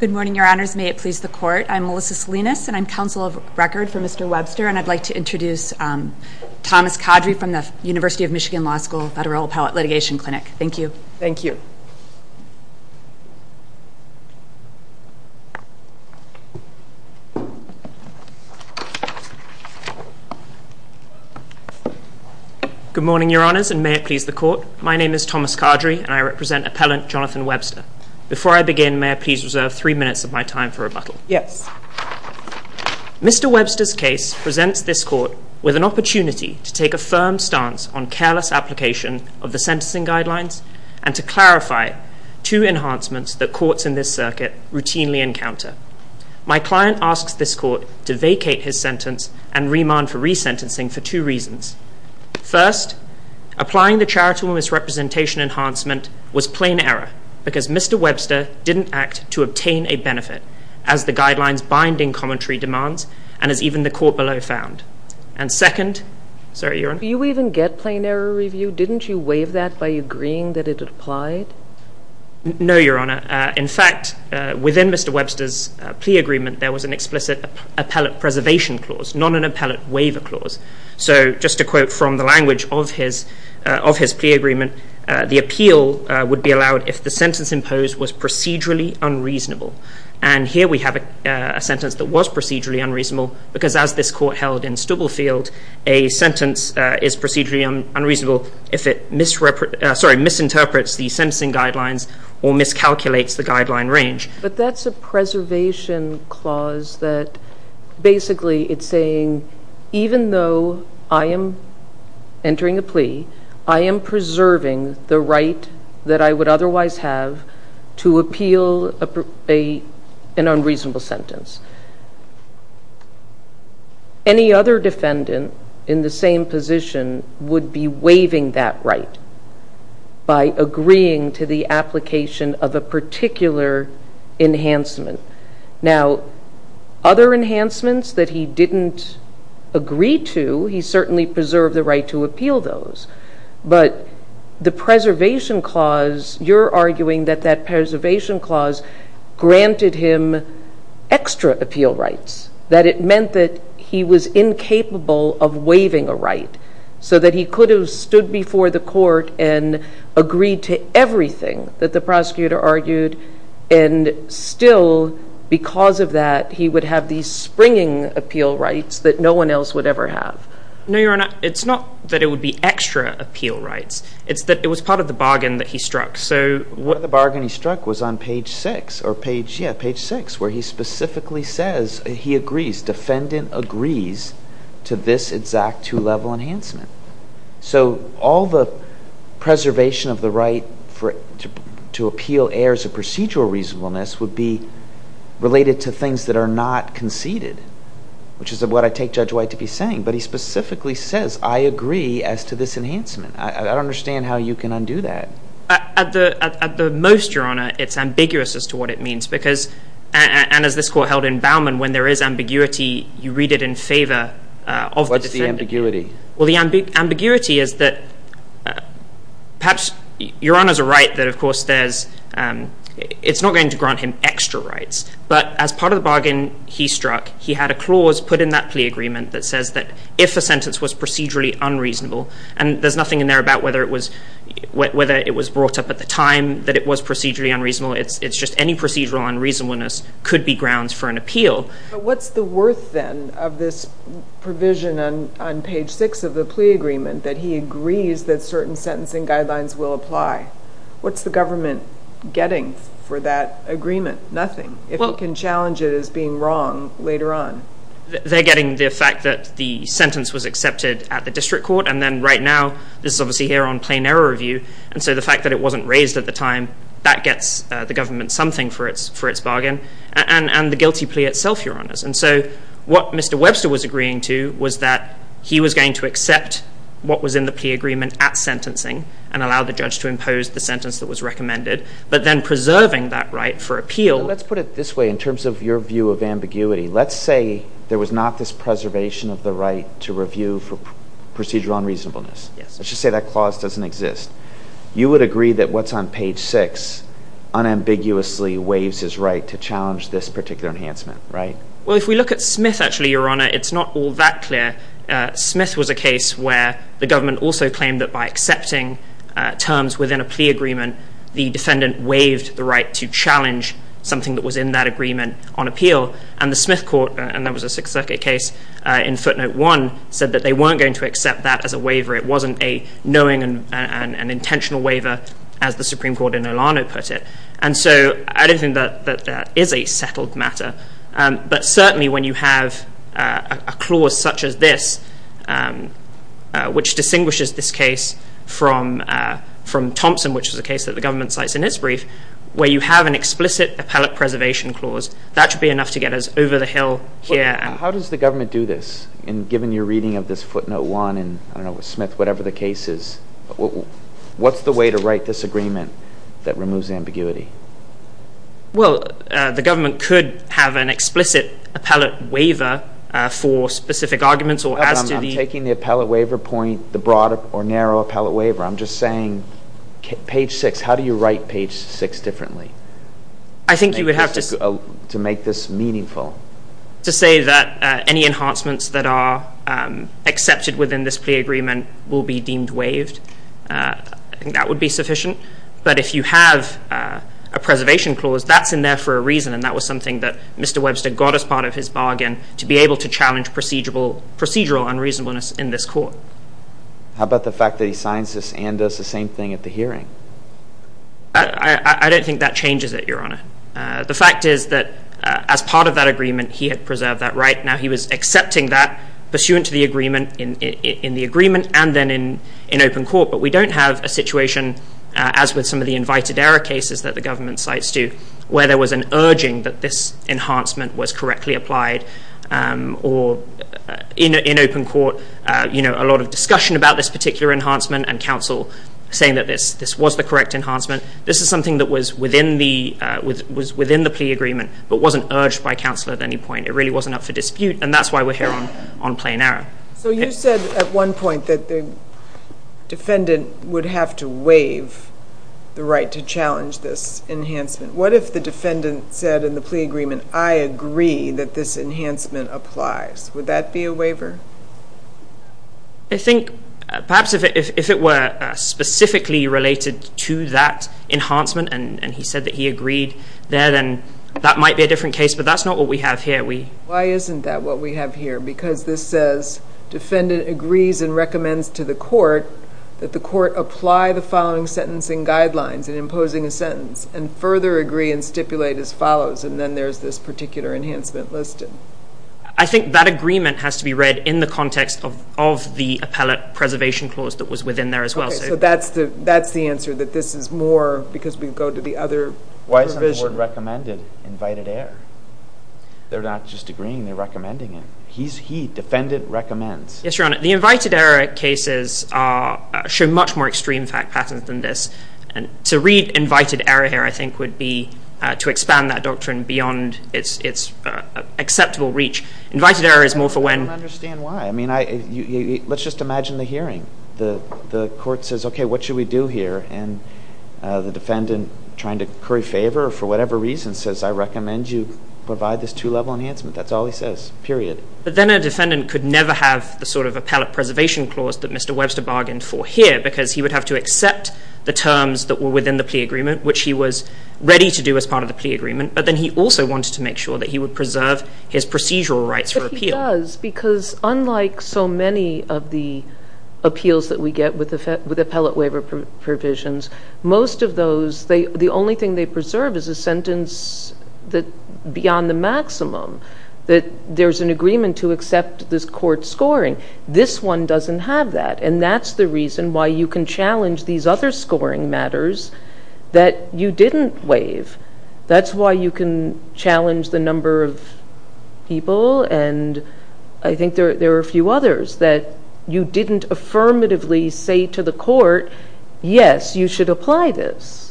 Good morning, your honors. May it please the court. I'm Melissa Salinas, and I'm counsel of record for Mr. Webster, and I'd like to introduce Thomas Codrey from the University of Michigan Law School Federal Appellate Litigation Clinic. Thank you. Thomas Codrey Good morning, your honors, and may it please the court. My name is Thomas Codrey, and I represent Appellant Jonathan Webster. Before I begin, may I please reserve three minutes of my time for rebuttal? Melissa Salinas Yes. Thomas Codrey Mr. Webster's case presents this court with an opportunity to take a firm stance on careless application of the sentencing guidelines and to clarify two enhancements that courts in this circuit routinely encounter. My client asks this court to vacate his sentence and remand for resentencing for two reasons. First, applying the charitable misrepresentation enhancement was plain error because Mr. Webster didn't act to obtain a benefit as the guidelines binding commentary demands and as even the second, sorry, your honor. Melissa Salinas Do you even get plain error review? Didn't you waive that by agreeing that it applied? Thomas Codrey No, your honor. In fact, within Mr. Webster's plea agreement, there was an explicit appellate preservation clause, not an appellate waiver clause. So just to quote from the language of his plea agreement, the appeal would be allowed if the sentence imposed was procedurally unreasonable. And here we have a sentence that was procedurally unreasonable because as this court held in Stubblefield, a sentence is procedurally unreasonable if it misinterprets the sentencing guidelines or miscalculates the guideline range. Melissa Salinas But that's a preservation clause that basically it's saying even though I am entering a plea, I am preserving the right that I would otherwise have to appeal an unreasonable sentence. Any other defendant in the same position would be waiving that right by agreeing to the application of a particular enhancement. Now, other enhancements that he didn't agree to, he certainly preserved the right to appeal those. But the preservation clause, you're arguing that that preservation clause granted him extra appeal rights, that it meant that he was incapable of waiving a right so that he could have stood before the court and agreed to everything that the prosecutor argued. And still, because of that, he would have these springing appeal rights that no one else would ever have. Thomas Codrey No, your honor, it's not that it would be that he struck. So what the bargain he struck was on page six, where he specifically says he agrees, defendant agrees to this exact two-level enhancement. So all the preservation of the right to appeal errors of procedural reasonableness would be related to things that are not conceded, which is what I take Judge White to be saying. But he specifically says, I agree as to this enhancement. I don't understand how you can undo that. Thomas Codrey At the most, your honor, it's ambiguous as to what it means. Because, and as this court held in Bauman, when there is ambiguity, you read it in favor of the defendant. Judge Walton What's the ambiguity? Thomas Codrey Well, the ambiguity is that perhaps your honors are right that of course there's, it's not going to grant him extra rights. But as part of the bargain he struck, he had a clause put in that plea agreement that says that if a sentence was procedurally unreasonable, and there's nothing in there about whether it was, whether it was brought up at the time that it was procedurally unreasonable. It's just any procedural unreasonableness could be grounds for an appeal. Judge Walton But what's the worth then of this provision on page six of the plea agreement that he agrees that certain sentencing guidelines will apply? What's the government getting for that agreement? Nothing. If it can challenge it as being wrong later on. Thomas Codrey They're getting the fact that the sentence was accepted at the district court. And then right now, this is obviously here on plain error review. And so the fact that it wasn't raised at the time, that gets the government something for its for its bargain, and the guilty plea itself, your honors. And so what Mr. Webster was agreeing to was that he was going to accept what was in the plea agreement at sentencing and allow the judge to impose the sentence that was recommended, but then preserving that right for appeal. Judge Walton Let's put it this way in terms of your view of ambiguity. Let's say there was not this preservation of the right to review for procedural unreasonableness. Let's just say that clause doesn't exist. You would agree that what's on page six unambiguously waives his right to challenge this particular enhancement, right? Thomas Codrey Well, if we look at Smith, actually, your honor, it's not all that clear. Smith was a case where the government also claimed that by accepting terms within a plea agreement, the defendant waived the right to challenge something that was in that agreement on appeal. And the Smith court, and that was a Sixth Circuit case in footnote one, said that they weren't going to accept that as a waiver. It wasn't a knowing and an intentional waiver, as the Supreme Court in Olano put it. And so I don't think that that is a settled matter. But certainly when you have a clause such as this, which distinguishes this case from Thompson, which is a case that the government cites in its brief, where you have an explicit appellate preservation clause, that should be enough to get us over the hill here. Al Gore How does the government do this? And given your reading of this footnote one, and I don't know, Smith, whatever the case is, what's the way to write this agreement that removes ambiguity? Thomas Codrey Well, the government could have an explicit appellate waiver for specific arguments or as to the Al Gore I'm taking the appellate waiver point, the right page six differently. To make this meaningful. Thomas Codrey To say that any enhancements that are accepted within this plea agreement will be deemed waived, I think that would be sufficient. But if you have a preservation clause, that's in there for a reason, and that was something that Mr. Webster got as part of his bargain to be able to challenge procedural unreasonableness in this court. Al Gore How about the fact that he signs this and does the same thing at the hearing? Thomas Codrey I don't think that changes it, Your Honor. The fact is that as part of that agreement, he had preserved that right. Now he was accepting that pursuant to the agreement in the agreement and then in open court. But we don't have a situation, as with some of the invited error cases that the government cites to, where there was an urging that this enhancement was correctly applied or in open court, you know, a lot of discussion about this particular enhancement and counsel saying that this was the correct enhancement. This is something that was within the plea agreement, but wasn't urged by counsel at any point. It really wasn't up for dispute, and that's why we're here on plain error. Judge Cardone So you said at one point that the defendant would have to waive the right to challenge this enhancement. What if the defendant said in the plea agreement, I agree that this enhancement applies? Would that be a waiver? Mr. Walsh I think perhaps if it were specifically related to that enhancement and he said that he agreed there, then that might be a different case. But that's not what we have here. We... Judge Cardone Why isn't that what we have here? Because this says defendant agrees and recommends to the court that the court apply the following sentencing guidelines in imposing a sentence and further agree and stipulate as follows. And then there's this particular enhancement listed. I think that agreement has to be read in the context of the appellate preservation clause that was within there as well. Judge Cardone So that's the answer, that this is more because Mr. Walsh Why isn't the word recommended, invited error? They're not just agreeing, they're recommending it. He, defendant, recommends. Mr. Walsh Yes, Your Honor. The invited error cases show much more extreme fact patterns than this. And to read invited error here, I think, would be to expand that doctrine beyond its acceptable reach. Invited error is more for when... Judge Cardone I don't understand why. I mean, let's just imagine the hearing. The court says, okay, what should we do here? And the defendant, trying to curry favor for whatever reason, says, I recommend you provide this two-level enhancement. That's all he says, period. Judge Cardone But then a defendant could never have the sort of appellate preservation clause that Mr. Webster bargained for here because he would have to accept the terms that were within the plea agreement, which he was ready to do as part of the plea agreement. But then he also wanted to make sure that he would preserve his procedural rights for appeal. Judge Sotomayor But he does, because unlike so many of the appeals that we get with appellate waiver provisions, most of those, the only thing they preserve is a sentence that's beyond the maximum, that there's an agreement to accept this court's scoring. This one doesn't have that. And that's the reason why you can challenge these other scoring matters that you didn't waive. That's why you can challenge the number of people, and I think there are a few others, that you didn't affirmatively say to the court, yes, you should apply this. Judge Cardone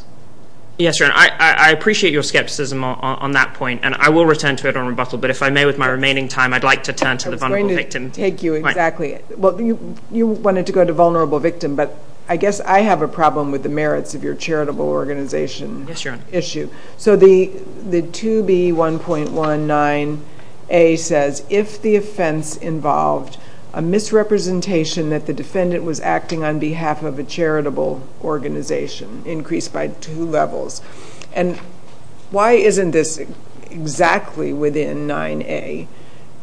Yes, Your Honor. I appreciate your skepticism on that point, and I will return to it on rebuttal. But if I may, with my remaining time, I'd like to turn to the vulnerable victim. Judge Cardone I was going to take you, exactly. Well, you know, I guess I have a problem with the merits of your charitable organization issue. Judge Sotomayor Yes, Your Honor. Judge Cardone So the 2B1.19a says, if the offense involved a misrepresentation that the defendant was acting on behalf of a charitable organization, increased by two levels. And why isn't this exactly within 9a?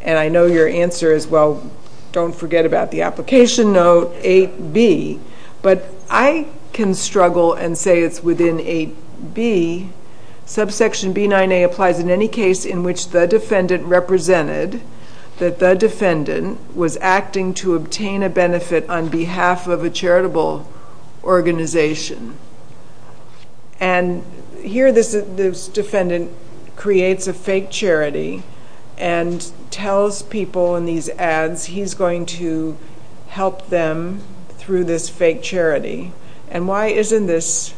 And I know your answer is, well, don't forget about the application note, 8b. But I can struggle and say it's within 8b. Subsection B9a applies in any case in which the defendant represented that the defendant was acting to obtain a benefit on behalf of a charitable organization. And here this defendant creates a fake charity and tells people in these ads he's going to help them through this fake charity. And why isn't this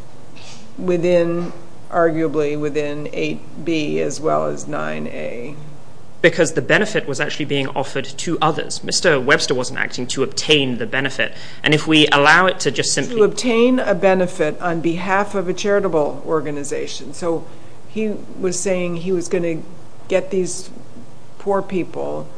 within, arguably, within 8b as well as Judge Sotomayor Because the benefit was actually being offered to others. Mr. Webster wasn't acting to obtain the benefit. And if we allow it to just simply obtain a benefit on behalf of a charitable organization. So he was saying he was going to get these poor people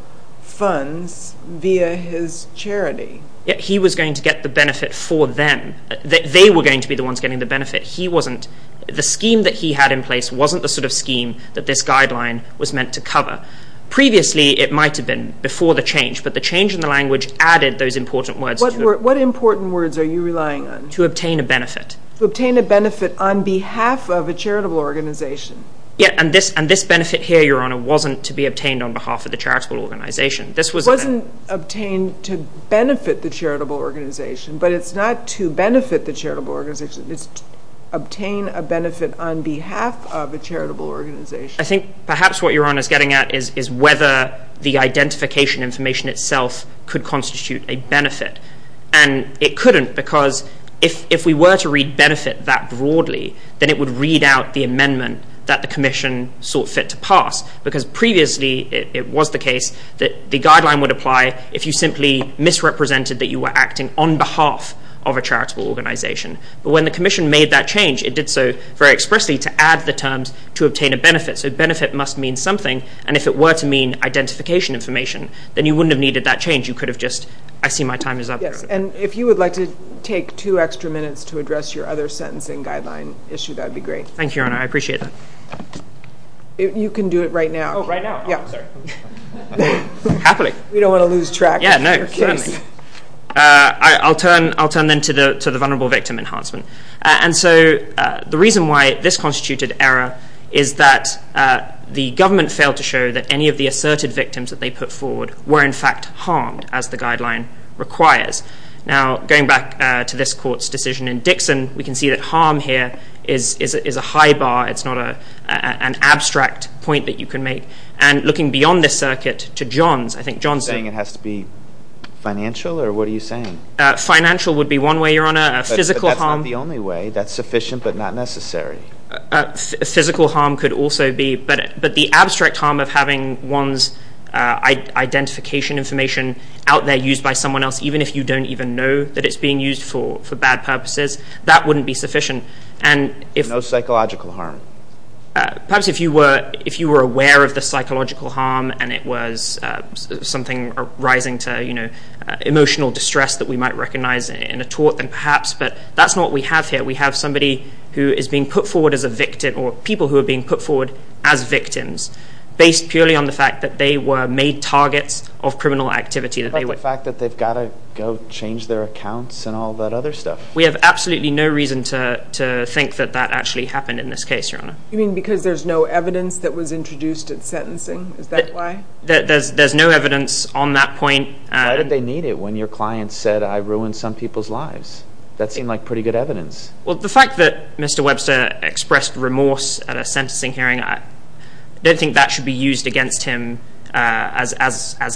funds via his charity. Judge Cardone Yet he was going to get the benefit for them. They were going to be the ones getting the benefit. He wasn't. The scheme that he had in place wasn't the sort of scheme that this guideline was meant to cover. Previously, it might have been before the change, but the change in the language added those important words to it. To obtain a benefit. To obtain a benefit on behalf of a charitable organization. And this benefit here, Your Honor, wasn't to be obtained on behalf of the charitable organization. It wasn't obtained to benefit the charitable organization, but it's not to benefit the charitable organization. It's to obtain a benefit on behalf of a charitable organization. I think perhaps what Your Honor is getting at is whether the identification information itself could constitute a benefit. And it if we were to read benefit that broadly, then it would read out the amendment that the commission sought fit to pass. Because previously, it was the case that the guideline would apply if you simply misrepresented that you were acting on behalf of a charitable organization. But when the commission made that change, it did so very expressly to add the terms to obtain a benefit. So benefit must mean something. And if it were to mean identification information, then you wouldn't have needed that change. You could have just, I see my time is up. Yes. And if you would like to take two extra minutes to address your other sentencing guideline issue, that'd be great. Thank you, Your Honor. I appreciate that. You can do it right now. Oh, right now? Yeah. Oh, I'm sorry. Happily. We don't want to lose track of your case. Yeah, no, certainly. I'll turn then to the vulnerable victim enhancement. And so the reason why this constituted error is that the government failed to show that any of the asserted victims that they put forward were in fact harmed, as the guideline requires. Now going back to this court's decision in Dixon, we can see that harm here is a high bar. It's not an abstract point that you can make. And looking beyond this circuit to Johns, I think Johnson You're saying it has to be financial? Or what are you saying? Financial would be one way, Your Honor. A physical harm But that's not the only way. That's sufficient, but not necessary. A physical harm could also be, but the abstract harm of having one's identification information out there used by someone else, even if you don't even know that it's being used for bad purposes, that wouldn't be sufficient. And if No psychological harm. Perhaps if you were aware of the psychological harm and it was something arising to emotional distress that we might recognize in a tort, then perhaps. But that's not what we have here. We have somebody who is being put forward as a victim, or people who are being put forward as victims, based purely on the fact that they were made targets of criminal activity that they What about the fact that they've got to go change their accounts and all that other stuff? We have absolutely no reason to think that that actually happened in this case, Your Honor. You mean because there's no evidence that was introduced at sentencing? Is that why? There's no evidence on that point. Why did they need it when your client said, I ruined some people's lives? That seemed like pretty good evidence. Well, the fact that Mr. Webster expressed remorse at a sentencing hearing, I don't think that should be used against him as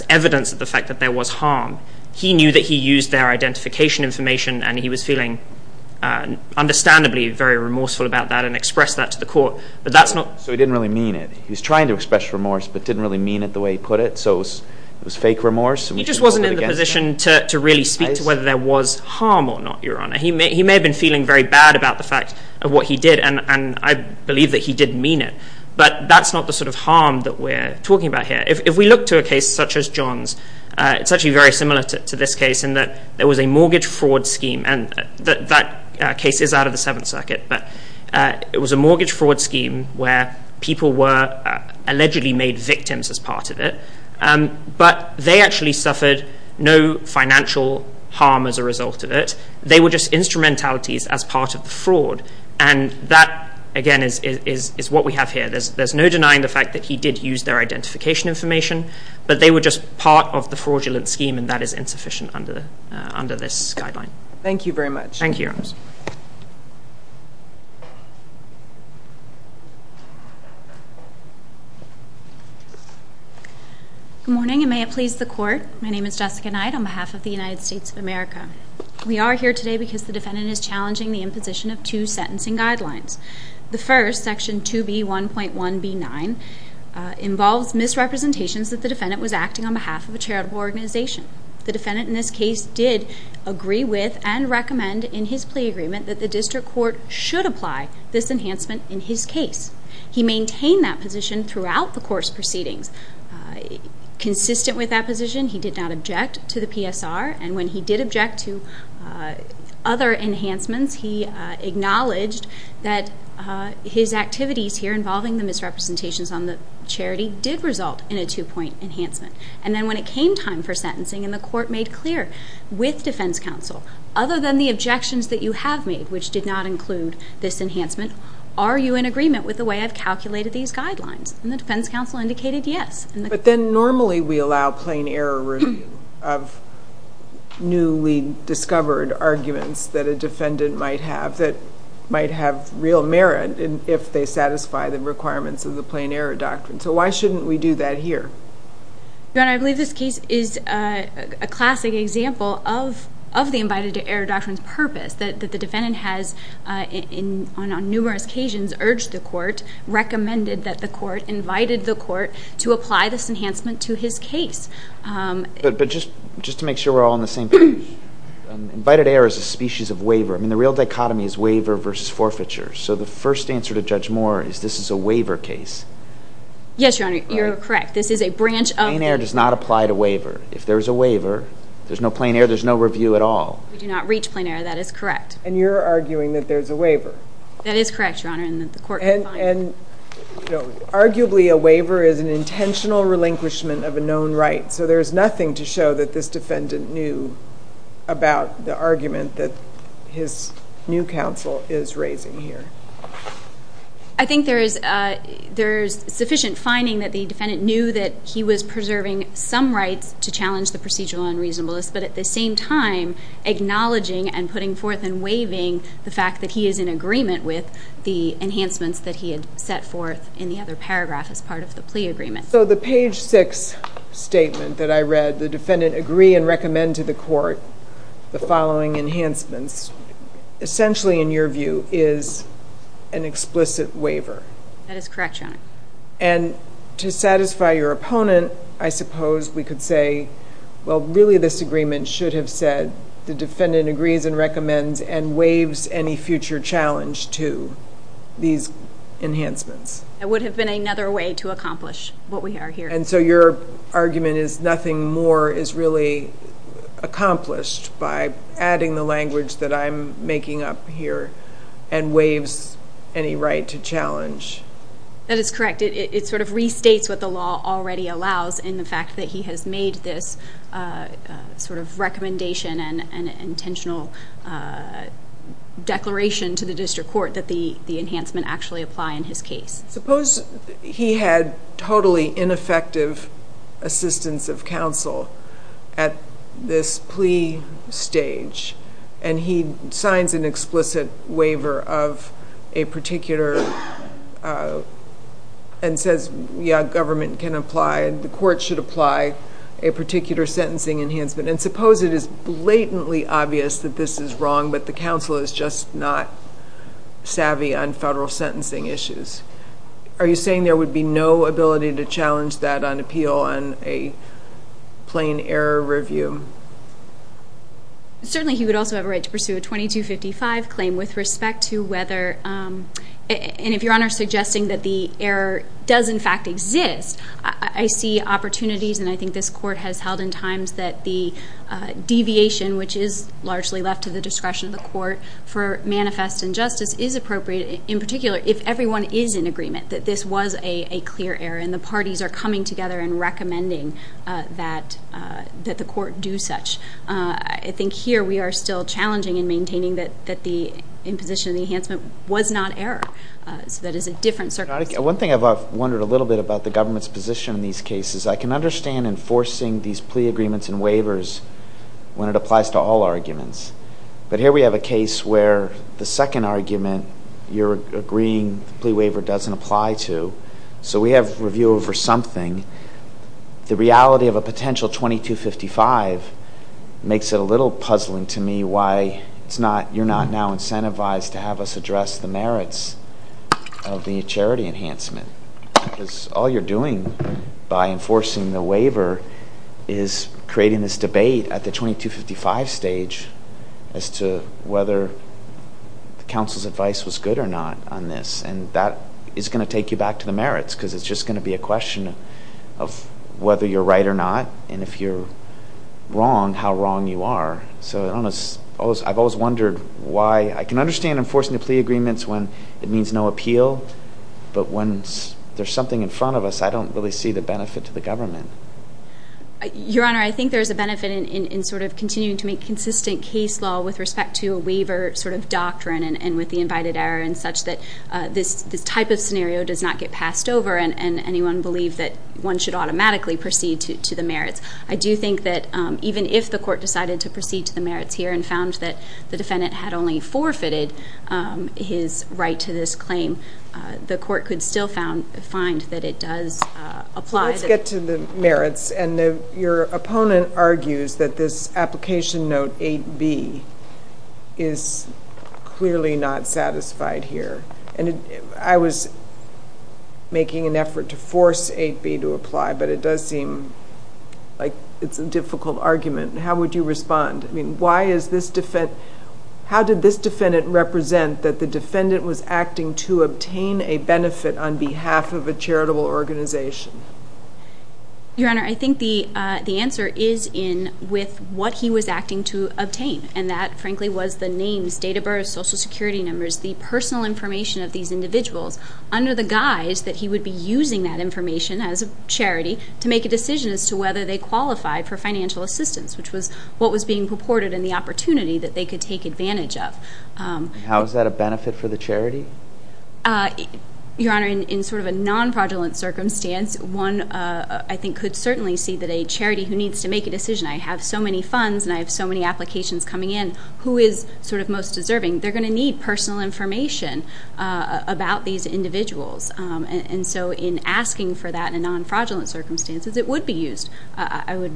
evidence of the fact that there was harm. He knew that he used their identification information, and he was feeling understandably very remorseful about that and expressed that to the court. But that's not So he didn't really mean it. He was trying to express remorse, but didn't really mean it the way he put it. So it was fake remorse. He just wasn't in the position to really speak to whether there was harm or not, Your Honor. He may have been feeling very bad about the fact of what he did, and I believe that he didn't mean it. But that's not the sort of harm that we're talking about here. If we look to a case such as John's, it's actually very similar to this case in that there was a mortgage fraud scheme, and that case is out of the Seventh Circuit, but it was a mortgage fraud scheme where people were allegedly made victims as part of it. But they actually suffered no financial harm as a result of it. They were just instrumentalities as part of the fraud, and that, again, is what we have here. There's no denying the fact that he did use their identification information, but they were just part of the fraudulent scheme, and that is insufficient under this guideline. Thank you, Your Honor. Good morning, and may it please the Court. My name is Jessica Knight on behalf of the United States of America. We are here today because the defendant is challenging the imposition of two sentencing guidelines. The first, Section 2B1.1b9, involves misrepresentations that the defendant was acting on behalf of a charitable organization. The defendant in this case did agree with and recommend in his plea agreement that the district court should apply this Consistent with that position, he did not object to the PSR, and when he did object to other enhancements, he acknowledged that his activities here involving the misrepresentations on the charity did result in a two-point enhancement. And then when it came time for sentencing, and the court made clear with defense counsel, other than the objections that you have made, which did not include this enhancement, are you in agreement with the way I've calculated these guidelines? And the defense counsel indicated yes. But then normally we allow plain error review of newly discovered arguments that a defendant might have that might have real merit if they satisfy the requirements of the plain error doctrine. So why shouldn't we do that here? Your Honor, I believe this case is a classic example of the invited-to-error doctrine's purpose, that the defendant has on numerous occasions urged the court, recommended that the court, invited the court to apply this enhancement to his case. But just to make sure we're all on the same page, invited-to-error is a species of waiver. I mean, the real dichotomy is waiver versus forfeiture. So the first answer to Judge Moore is this is a waiver case. Yes, Your Honor, you're correct. This is a branch of the... Plain error does not apply to waiver. If there's a waiver, there's no plain error, there's no review at all. We do not reach plain error, that is correct. And you're arguing that there's a waiver. That is correct, Your Honor, and that the court... And arguably a waiver is an intentional relinquishment of a known right. So there's nothing to show that this defendant knew about the argument that his new counsel is raising here. I think there is sufficient finding that the defendant knew that he was preserving some rights to challenge the procedural unreasonableness, but at the same time, putting forth and waiving the fact that he is in agreement with the enhancements that he had set forth in the other paragraph as part of the plea agreement. So the page six statement that I read, the defendant agree and recommend to the court the following enhancements, essentially in your view, is an explicit waiver. That is correct, Your Honor. And to satisfy your opponent, I suppose we could say, well, really this agreement should have said the defendant agrees and recommends and waives any future challenge to these enhancements. It would have been another way to accomplish what we are hearing. And so your argument is nothing more is really accomplished by adding the language that I'm making up here and waives any right to challenge. That is correct. It sort of restates what the law already allows in the fact that he has made this sort of recommendation and intentional declaration to the district court that the enhancement actually apply in his case. Suppose he had totally ineffective assistance of counsel at this plea stage and he signs an explicit waiver of a particular and says, yeah, government can apply and the court should apply a particular sentencing enhancement. And suppose it is blatantly obvious that this is wrong but the counsel is just not savvy on federal sentencing issues. Are you saying there would be no ability to challenge that on appeal on a plain error review? Certainly he would also have a right to pursue a 2255 claim with does in fact exist. I see opportunities and I think this court has held in times that the deviation which is largely left to the discretion of the court for manifest injustice is appropriate in particular if everyone is in agreement that this was a clear error and the parties are coming together and recommending that the court do such. I think here we are still challenging and maintaining that the imposition of the enhancement was not error. So that is a different One thing I have wondered a little bit about the government's position in these cases. I can understand enforcing these plea agreements and waivers when it applies to all arguments. But here we have a case where the second argument you are agreeing the plea waiver does not apply to. So we have review over something. The reality of a potential 2255 makes it a little puzzling to me it is not you are not now incentivized to have us address the merits of the charity enhancement. All you are doing by enforcing the waiver is creating this debate at the 2255 stage as to whether counsel's advice was good or not on this. That is going to take you back to the merits because it is just going to be a question of whether you are right or not and if you are wrong, how wrong you are. I can understand enforcing the plea agreements when it means no appeal. But when there is something in front of us, I don't really see the benefit to the government. Your Honor, I think there is a benefit in continuing to make consistent case law with respect to a waiver doctrine and with the invited error in such that this type of scenario does not get passed over and anyone believe that one should automatically proceed to the merits. I do think that even if the court decided to proceed to the merits here and found that the defendant had only forfeited his right to this claim, the court could still find that it does apply. Let's get to the merits. Your opponent argues that this application note 8b is clearly not satisfied here. I was making an effort to force 8b to apply but it does seem it is a difficult argument. How would you respond? How did this defendant represent that the defendant was acting to obtain a benefit on behalf of a charitable organization? Your Honor, I think the answer is in with what he was acting to obtain and that frankly was the names, date of birth, social security numbers, the personal information of these individuals under the guise that he would be using that information as a charity to make a decision as to whether they qualify for financial assistance, which was what was being purported in the opportunity that they could take advantage of. How is that a benefit for the charity? Your Honor, in sort of a non-fraudulent circumstance, one I think could certainly see that a charity who needs to make a decision, I have so many funds and I have so many applications coming in, who is sort of most deserving? They're going to need personal information about these individuals and so in asking for that in a non-fraudulent circumstances, it would be used, I would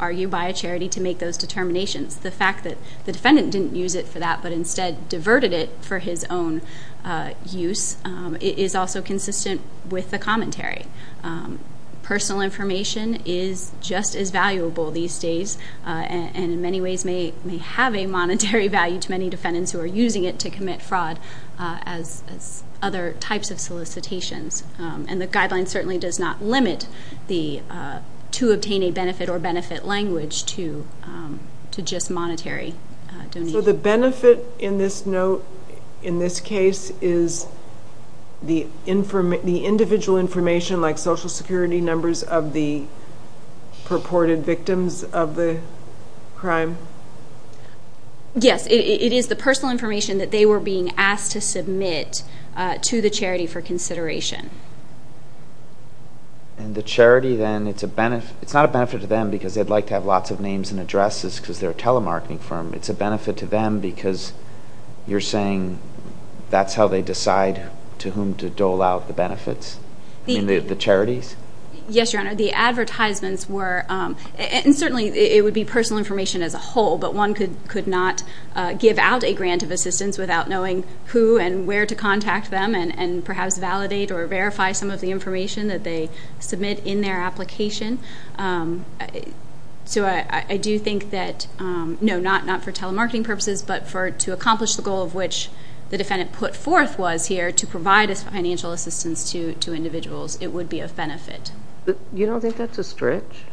argue, by a charity to make those determinations. The fact that the defendant didn't use it for that but instead diverted it for his own use is also consistent with the commentary. Personal information is just as valuable these days and in many ways may have a monetary value to many defendants who are using it to commit fraud as other types of solicitations and the guideline certainly does not limit the to obtain a benefit or benefit language to just monetary donation. So the benefit in this note, in this case, is the individual information like social security numbers of the purported victims of the crime? Yes, it is the personal information. And the charity then, it's a benefit, it's not a benefit to them because they'd like to have lots of names and addresses because they're a telemarketing firm. It's a benefit to them because you're saying that's how they decide to whom to dole out the benefits, the charities? Yes, your honor. The advertisements were, and certainly it would be personal information as a whole, but one could not give out a grant of assistance without knowing who and where to verify some of the information that they submit in their application. So I do think that, no, not for telemarketing purposes, but to accomplish the goal of which the defendant put forth was here to provide financial assistance to individuals, it would be a benefit. You don't think that's a stretch?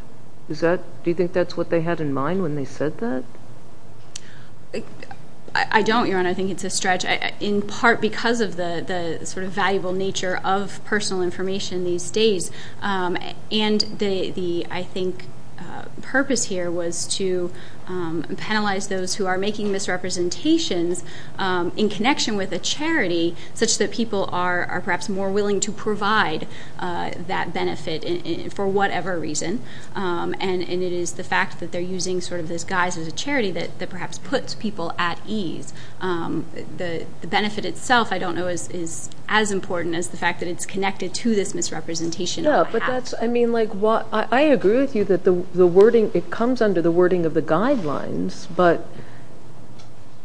Do you think that's what they had in mind when they said that? I don't, your honor. I think it's a stretch in part because of the sort of nature of personal information these days. And the, I think, purpose here was to penalize those who are making misrepresentations in connection with a charity such that people are perhaps more willing to provide that benefit for whatever reason. And it is the fact that they're using sort of this guise as a charity that perhaps puts people at ease. The benefit itself, I don't know, is as important as the fact that it's connected to this misrepresentation. Yeah, but that's, I mean, like, I agree with you that the wording, it comes under the wording of the guidelines, but,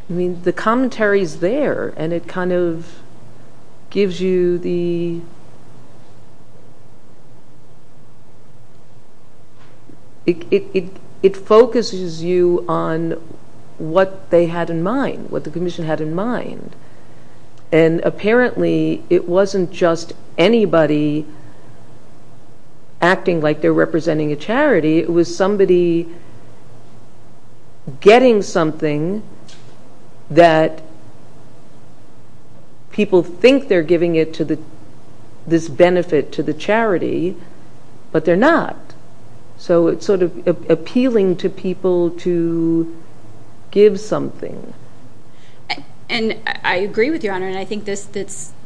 I mean, the commentary's there and it kind of gives you the, it focuses you on what they had in mind, what the commission had in mind. And apparently, it wasn't just anybody acting like they're representing a charity, it was somebody getting something that people think they're giving it to the, this benefit to the charity, but they're not. So, it's sort of appealing to people to give something. And I agree with you, Your Honor, and I think this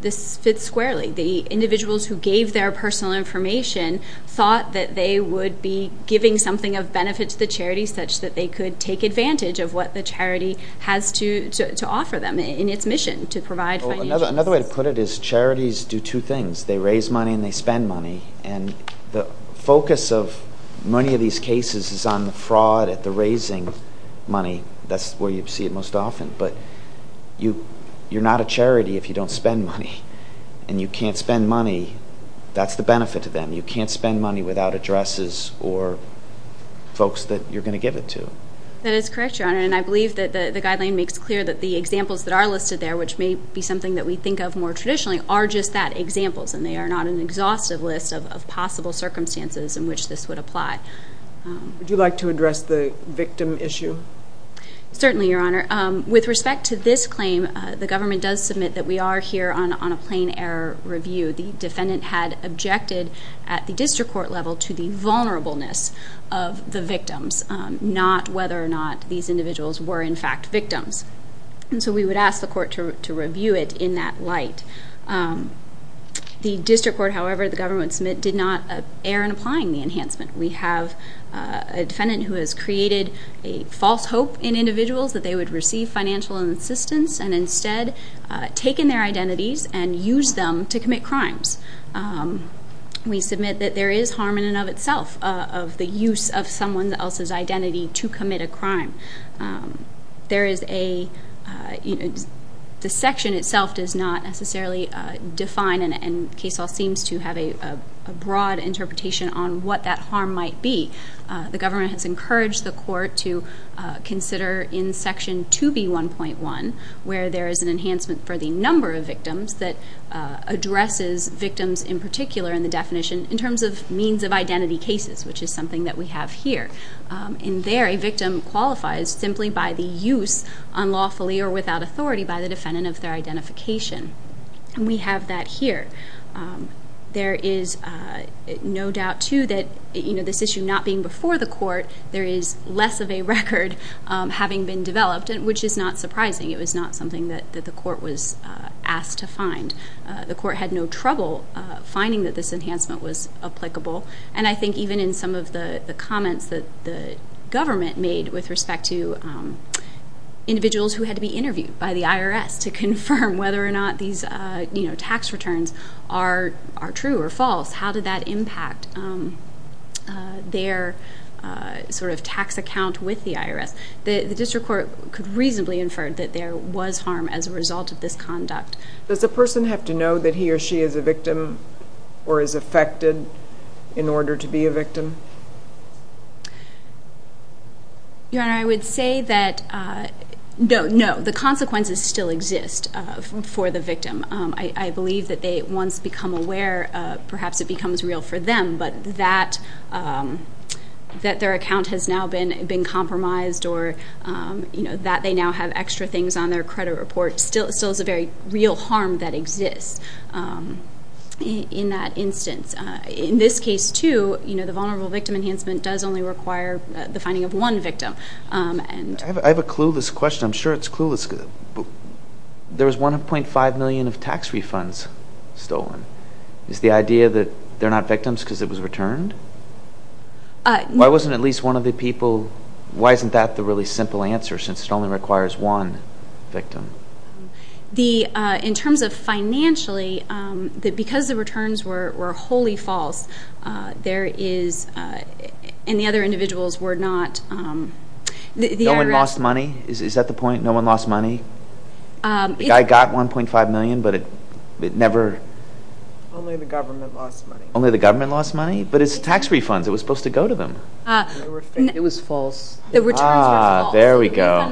fits squarely. The individuals who gave their personal information thought that they would be giving something of benefit to the charity such that they could take advantage of what the charity has to offer them in its mission to provide financial assistance. Another way to put it is charities do two things. They raise money and they spend money. And the focus of many of these cases is on the fraud, at the raising money, that's where you see it most often. But you're not a charity if you don't spend money. And you can't spend money, that's the benefit to them. You can't spend money without addresses or folks that you're going to give it to. That is correct, Your Honor, and I believe that the guideline makes clear that the examples that are listed there, which may be something that we think more traditionally, are just that, examples. And they are not an exhaustive list of possible circumstances in which this would apply. Would you like to address the victim issue? Certainly, Your Honor. With respect to this claim, the government does submit that we are here on a plain error review. The defendant had objected at the district court level to the vulnerableness of the victims, not whether or not these individuals were in fact victims. And so we would ask the court to review it in that light. The district court, however, the government submit, did not err in applying the enhancement. We have a defendant who has created a false hope in individuals that they would receive financial assistance and instead take in their identities and use them to commit crimes. We submit that there is harm in and of itself of the use of the victim. The section itself does not necessarily define, and Casol seems to have a broad interpretation on what that harm might be. The government has encouraged the court to consider in section 2B1.1, where there is an enhancement for the number of victims that addresses victims in particular in the definition in terms of means of identity cases, which is something that we have here. In there, a victim qualifies simply by the use, unlawfully or without authority, by the defendant of their identification. We have that here. There is no doubt, too, that this issue not being before the court, there is less of a record having been developed, which is not surprising. It was not something that the court was asked to find. The court had no trouble finding that this enhancement was applicable. And I think even in some of the comments that the government made with respect to individuals who had to be interviewed by the IRS to confirm whether or not these tax returns are true or false, how did that impact their sort of tax account with the IRS? The district court could reasonably infer that there was harm as a result of this conduct. Does a person have to know that he or she is a victim or is affected in order to be a victim? Your Honor, I would say that no, the consequences still exist for the victim. I believe that they once become aware, perhaps it becomes real for them, but that their account has now been discovered still is a very real harm that exists in that instance. In this case, too, the vulnerable victim enhancement does only require the finding of one victim. I have a clueless question. I'm sure it's clueless. There was $1.5 million of tax refunds stolen. Is the idea that they're not victims because it was returned? Why wasn't at least one of the people, why isn't that the really simple answer since it only requires one victim? In terms of financially, because the returns were wholly false, there is... And the other individuals were not... No one lost money? Is that the point? No one lost money? The guy got $1.5 million, but it never... Only the government lost money. Only the government lost money? But it's tax refunds, it was supposed to go to them. It was false. The returns were false. There we go. It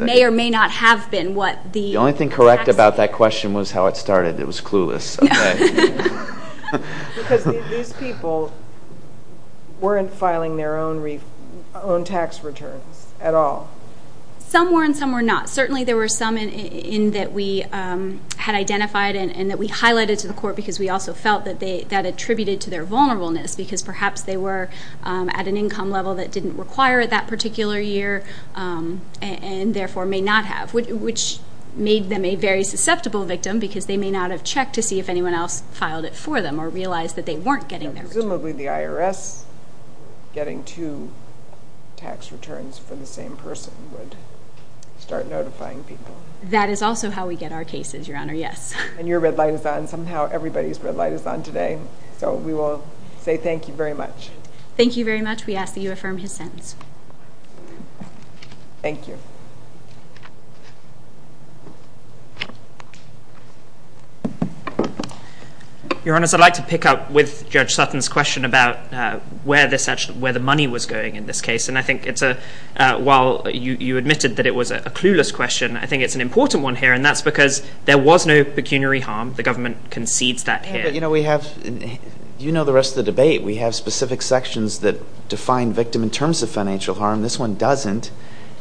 may or may not have been what the... The only thing correct about that question was how it started. It was clueless. Because these people weren't filing their own tax returns at all. Some were and some were not. Certainly there were some in that we had identified and that we highlighted to the court because we also felt that attributed to their vulnerableness because perhaps they were at an income level that didn't require that particular year and therefore may not have, which made them a very susceptible victim because they may not have checked to see if anyone else filed it for them or realized that they weren't getting their returns. Presumably the IRS getting two tax returns for the same person would start notifying people. That is also how we get our cases, Your Honor, yes. And your red is on today. So we will say thank you very much. Thank you very much. We ask that you affirm his sentence. Thank you. Your Honor, I'd like to pick up with Judge Sutton's question about where the money was going in this case. And I think it's a... While you admitted that it was a clueless question, I think it's an important one here. And that's because there was no pecuniary harm. The government concedes that here. But we have... You know the rest of the debate. We have specific sections that define victim in terms of financial harm. This one doesn't.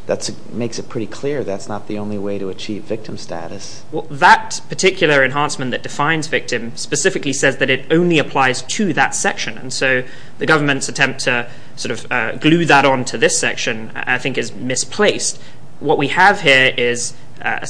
That makes it pretty clear that's not the only way to achieve victim status. Well, that particular enhancement that defines victim specifically says that it only applies to that section. And so the government's attempt to sort of glue that onto this section, I think is misplaced. What we have here is a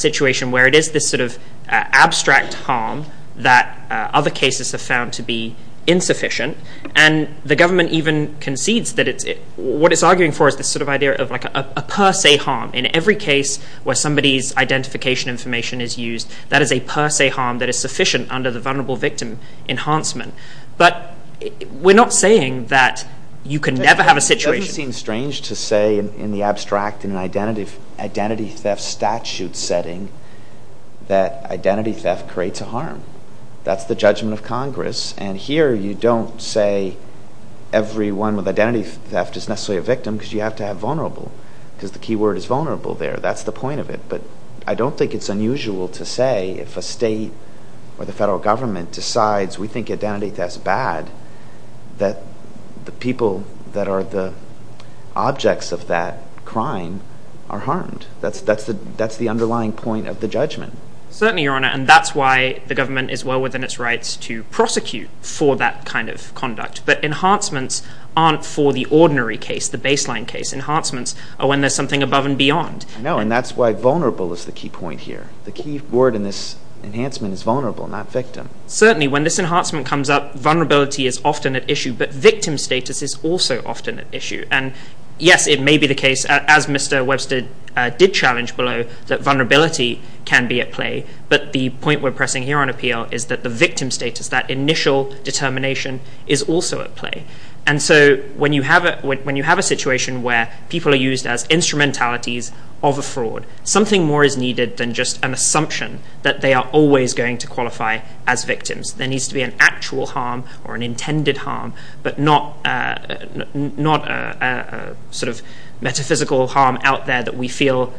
harm that other cases have found to be insufficient. And the government even concedes that it's... What it's arguing for is this sort of idea of like a per se harm. In every case where somebody's identification information is used, that is a per se harm that is sufficient under the vulnerable victim enhancement. But we're not saying that you can never have a situation... It doesn't seem strange to say in the abstract in an identity theft statute setting that identity theft creates a harm. That's the judgment of Congress. And here you don't say everyone with identity theft is necessarily a victim because you have to have vulnerable. Because the key word is vulnerable there. That's the point of it. But I don't think it's unusual to say if a state or the federal government decides we think identity theft is bad, that the people that are the objects of that crime are harmed. That's the underlying point of the judgment. Certainly, Your Honor, and that's why the government is well within its rights to prosecute for that kind of conduct. But enhancements aren't for the ordinary case, the baseline case. Enhancements are when there's something above and beyond. No, and that's why vulnerable is the key point here. The key word in this enhancement is certainly when this enhancement comes up, vulnerability is often at issue, but victim status is also often at issue. And yes, it may be the case, as Mr. Webster did challenge below, that vulnerability can be at play. But the point we're pressing here on appeal is that the victim status, that initial determination is also at play. And so when you have a situation where people are used as instrumentalities of a fraud, something more is needed than just an assumption that they are always going to qualify as victims. There needs to be an actual harm or an intended harm, but not a sort of metaphysical harm out there that we feel,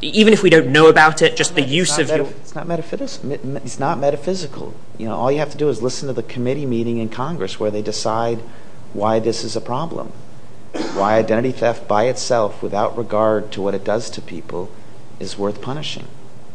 even if we don't know about it, just the use of... It's not metaphysical. All you have to do is listen to the committee meeting in Congress where they decide why this is a problem, why identity theft by itself without regard to what it does to people is worth punishing.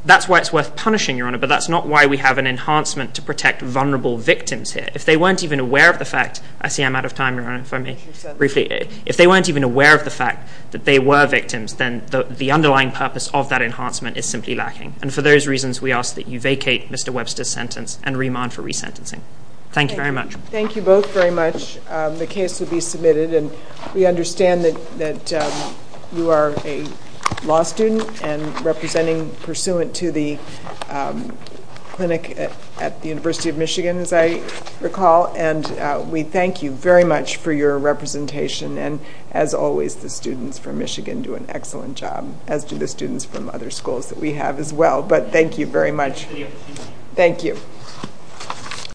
That's why it's worth punishing, Your Honor, but that's not why we have an enhancement to protect vulnerable victims here. If they weren't even aware of the fact... I see I'm out of time, Your Honor, if I may... Briefly. If they weren't even aware of the fact that they were victims, then the underlying purpose of that enhancement is simply lacking. And for those reasons, we ask that you vacate Mr. Webster's sentence and remand for resentencing. Thank you very much. Thank you both very much. The case will be submitted, and we understand that you are a law student and representing pursuant to the clinic at the University of Michigan, as I recall, and we thank you very much for your representation, and as always, the students from Michigan do an excellent job, as do the students from other schools that we have as well, but thank you very much. Thank you.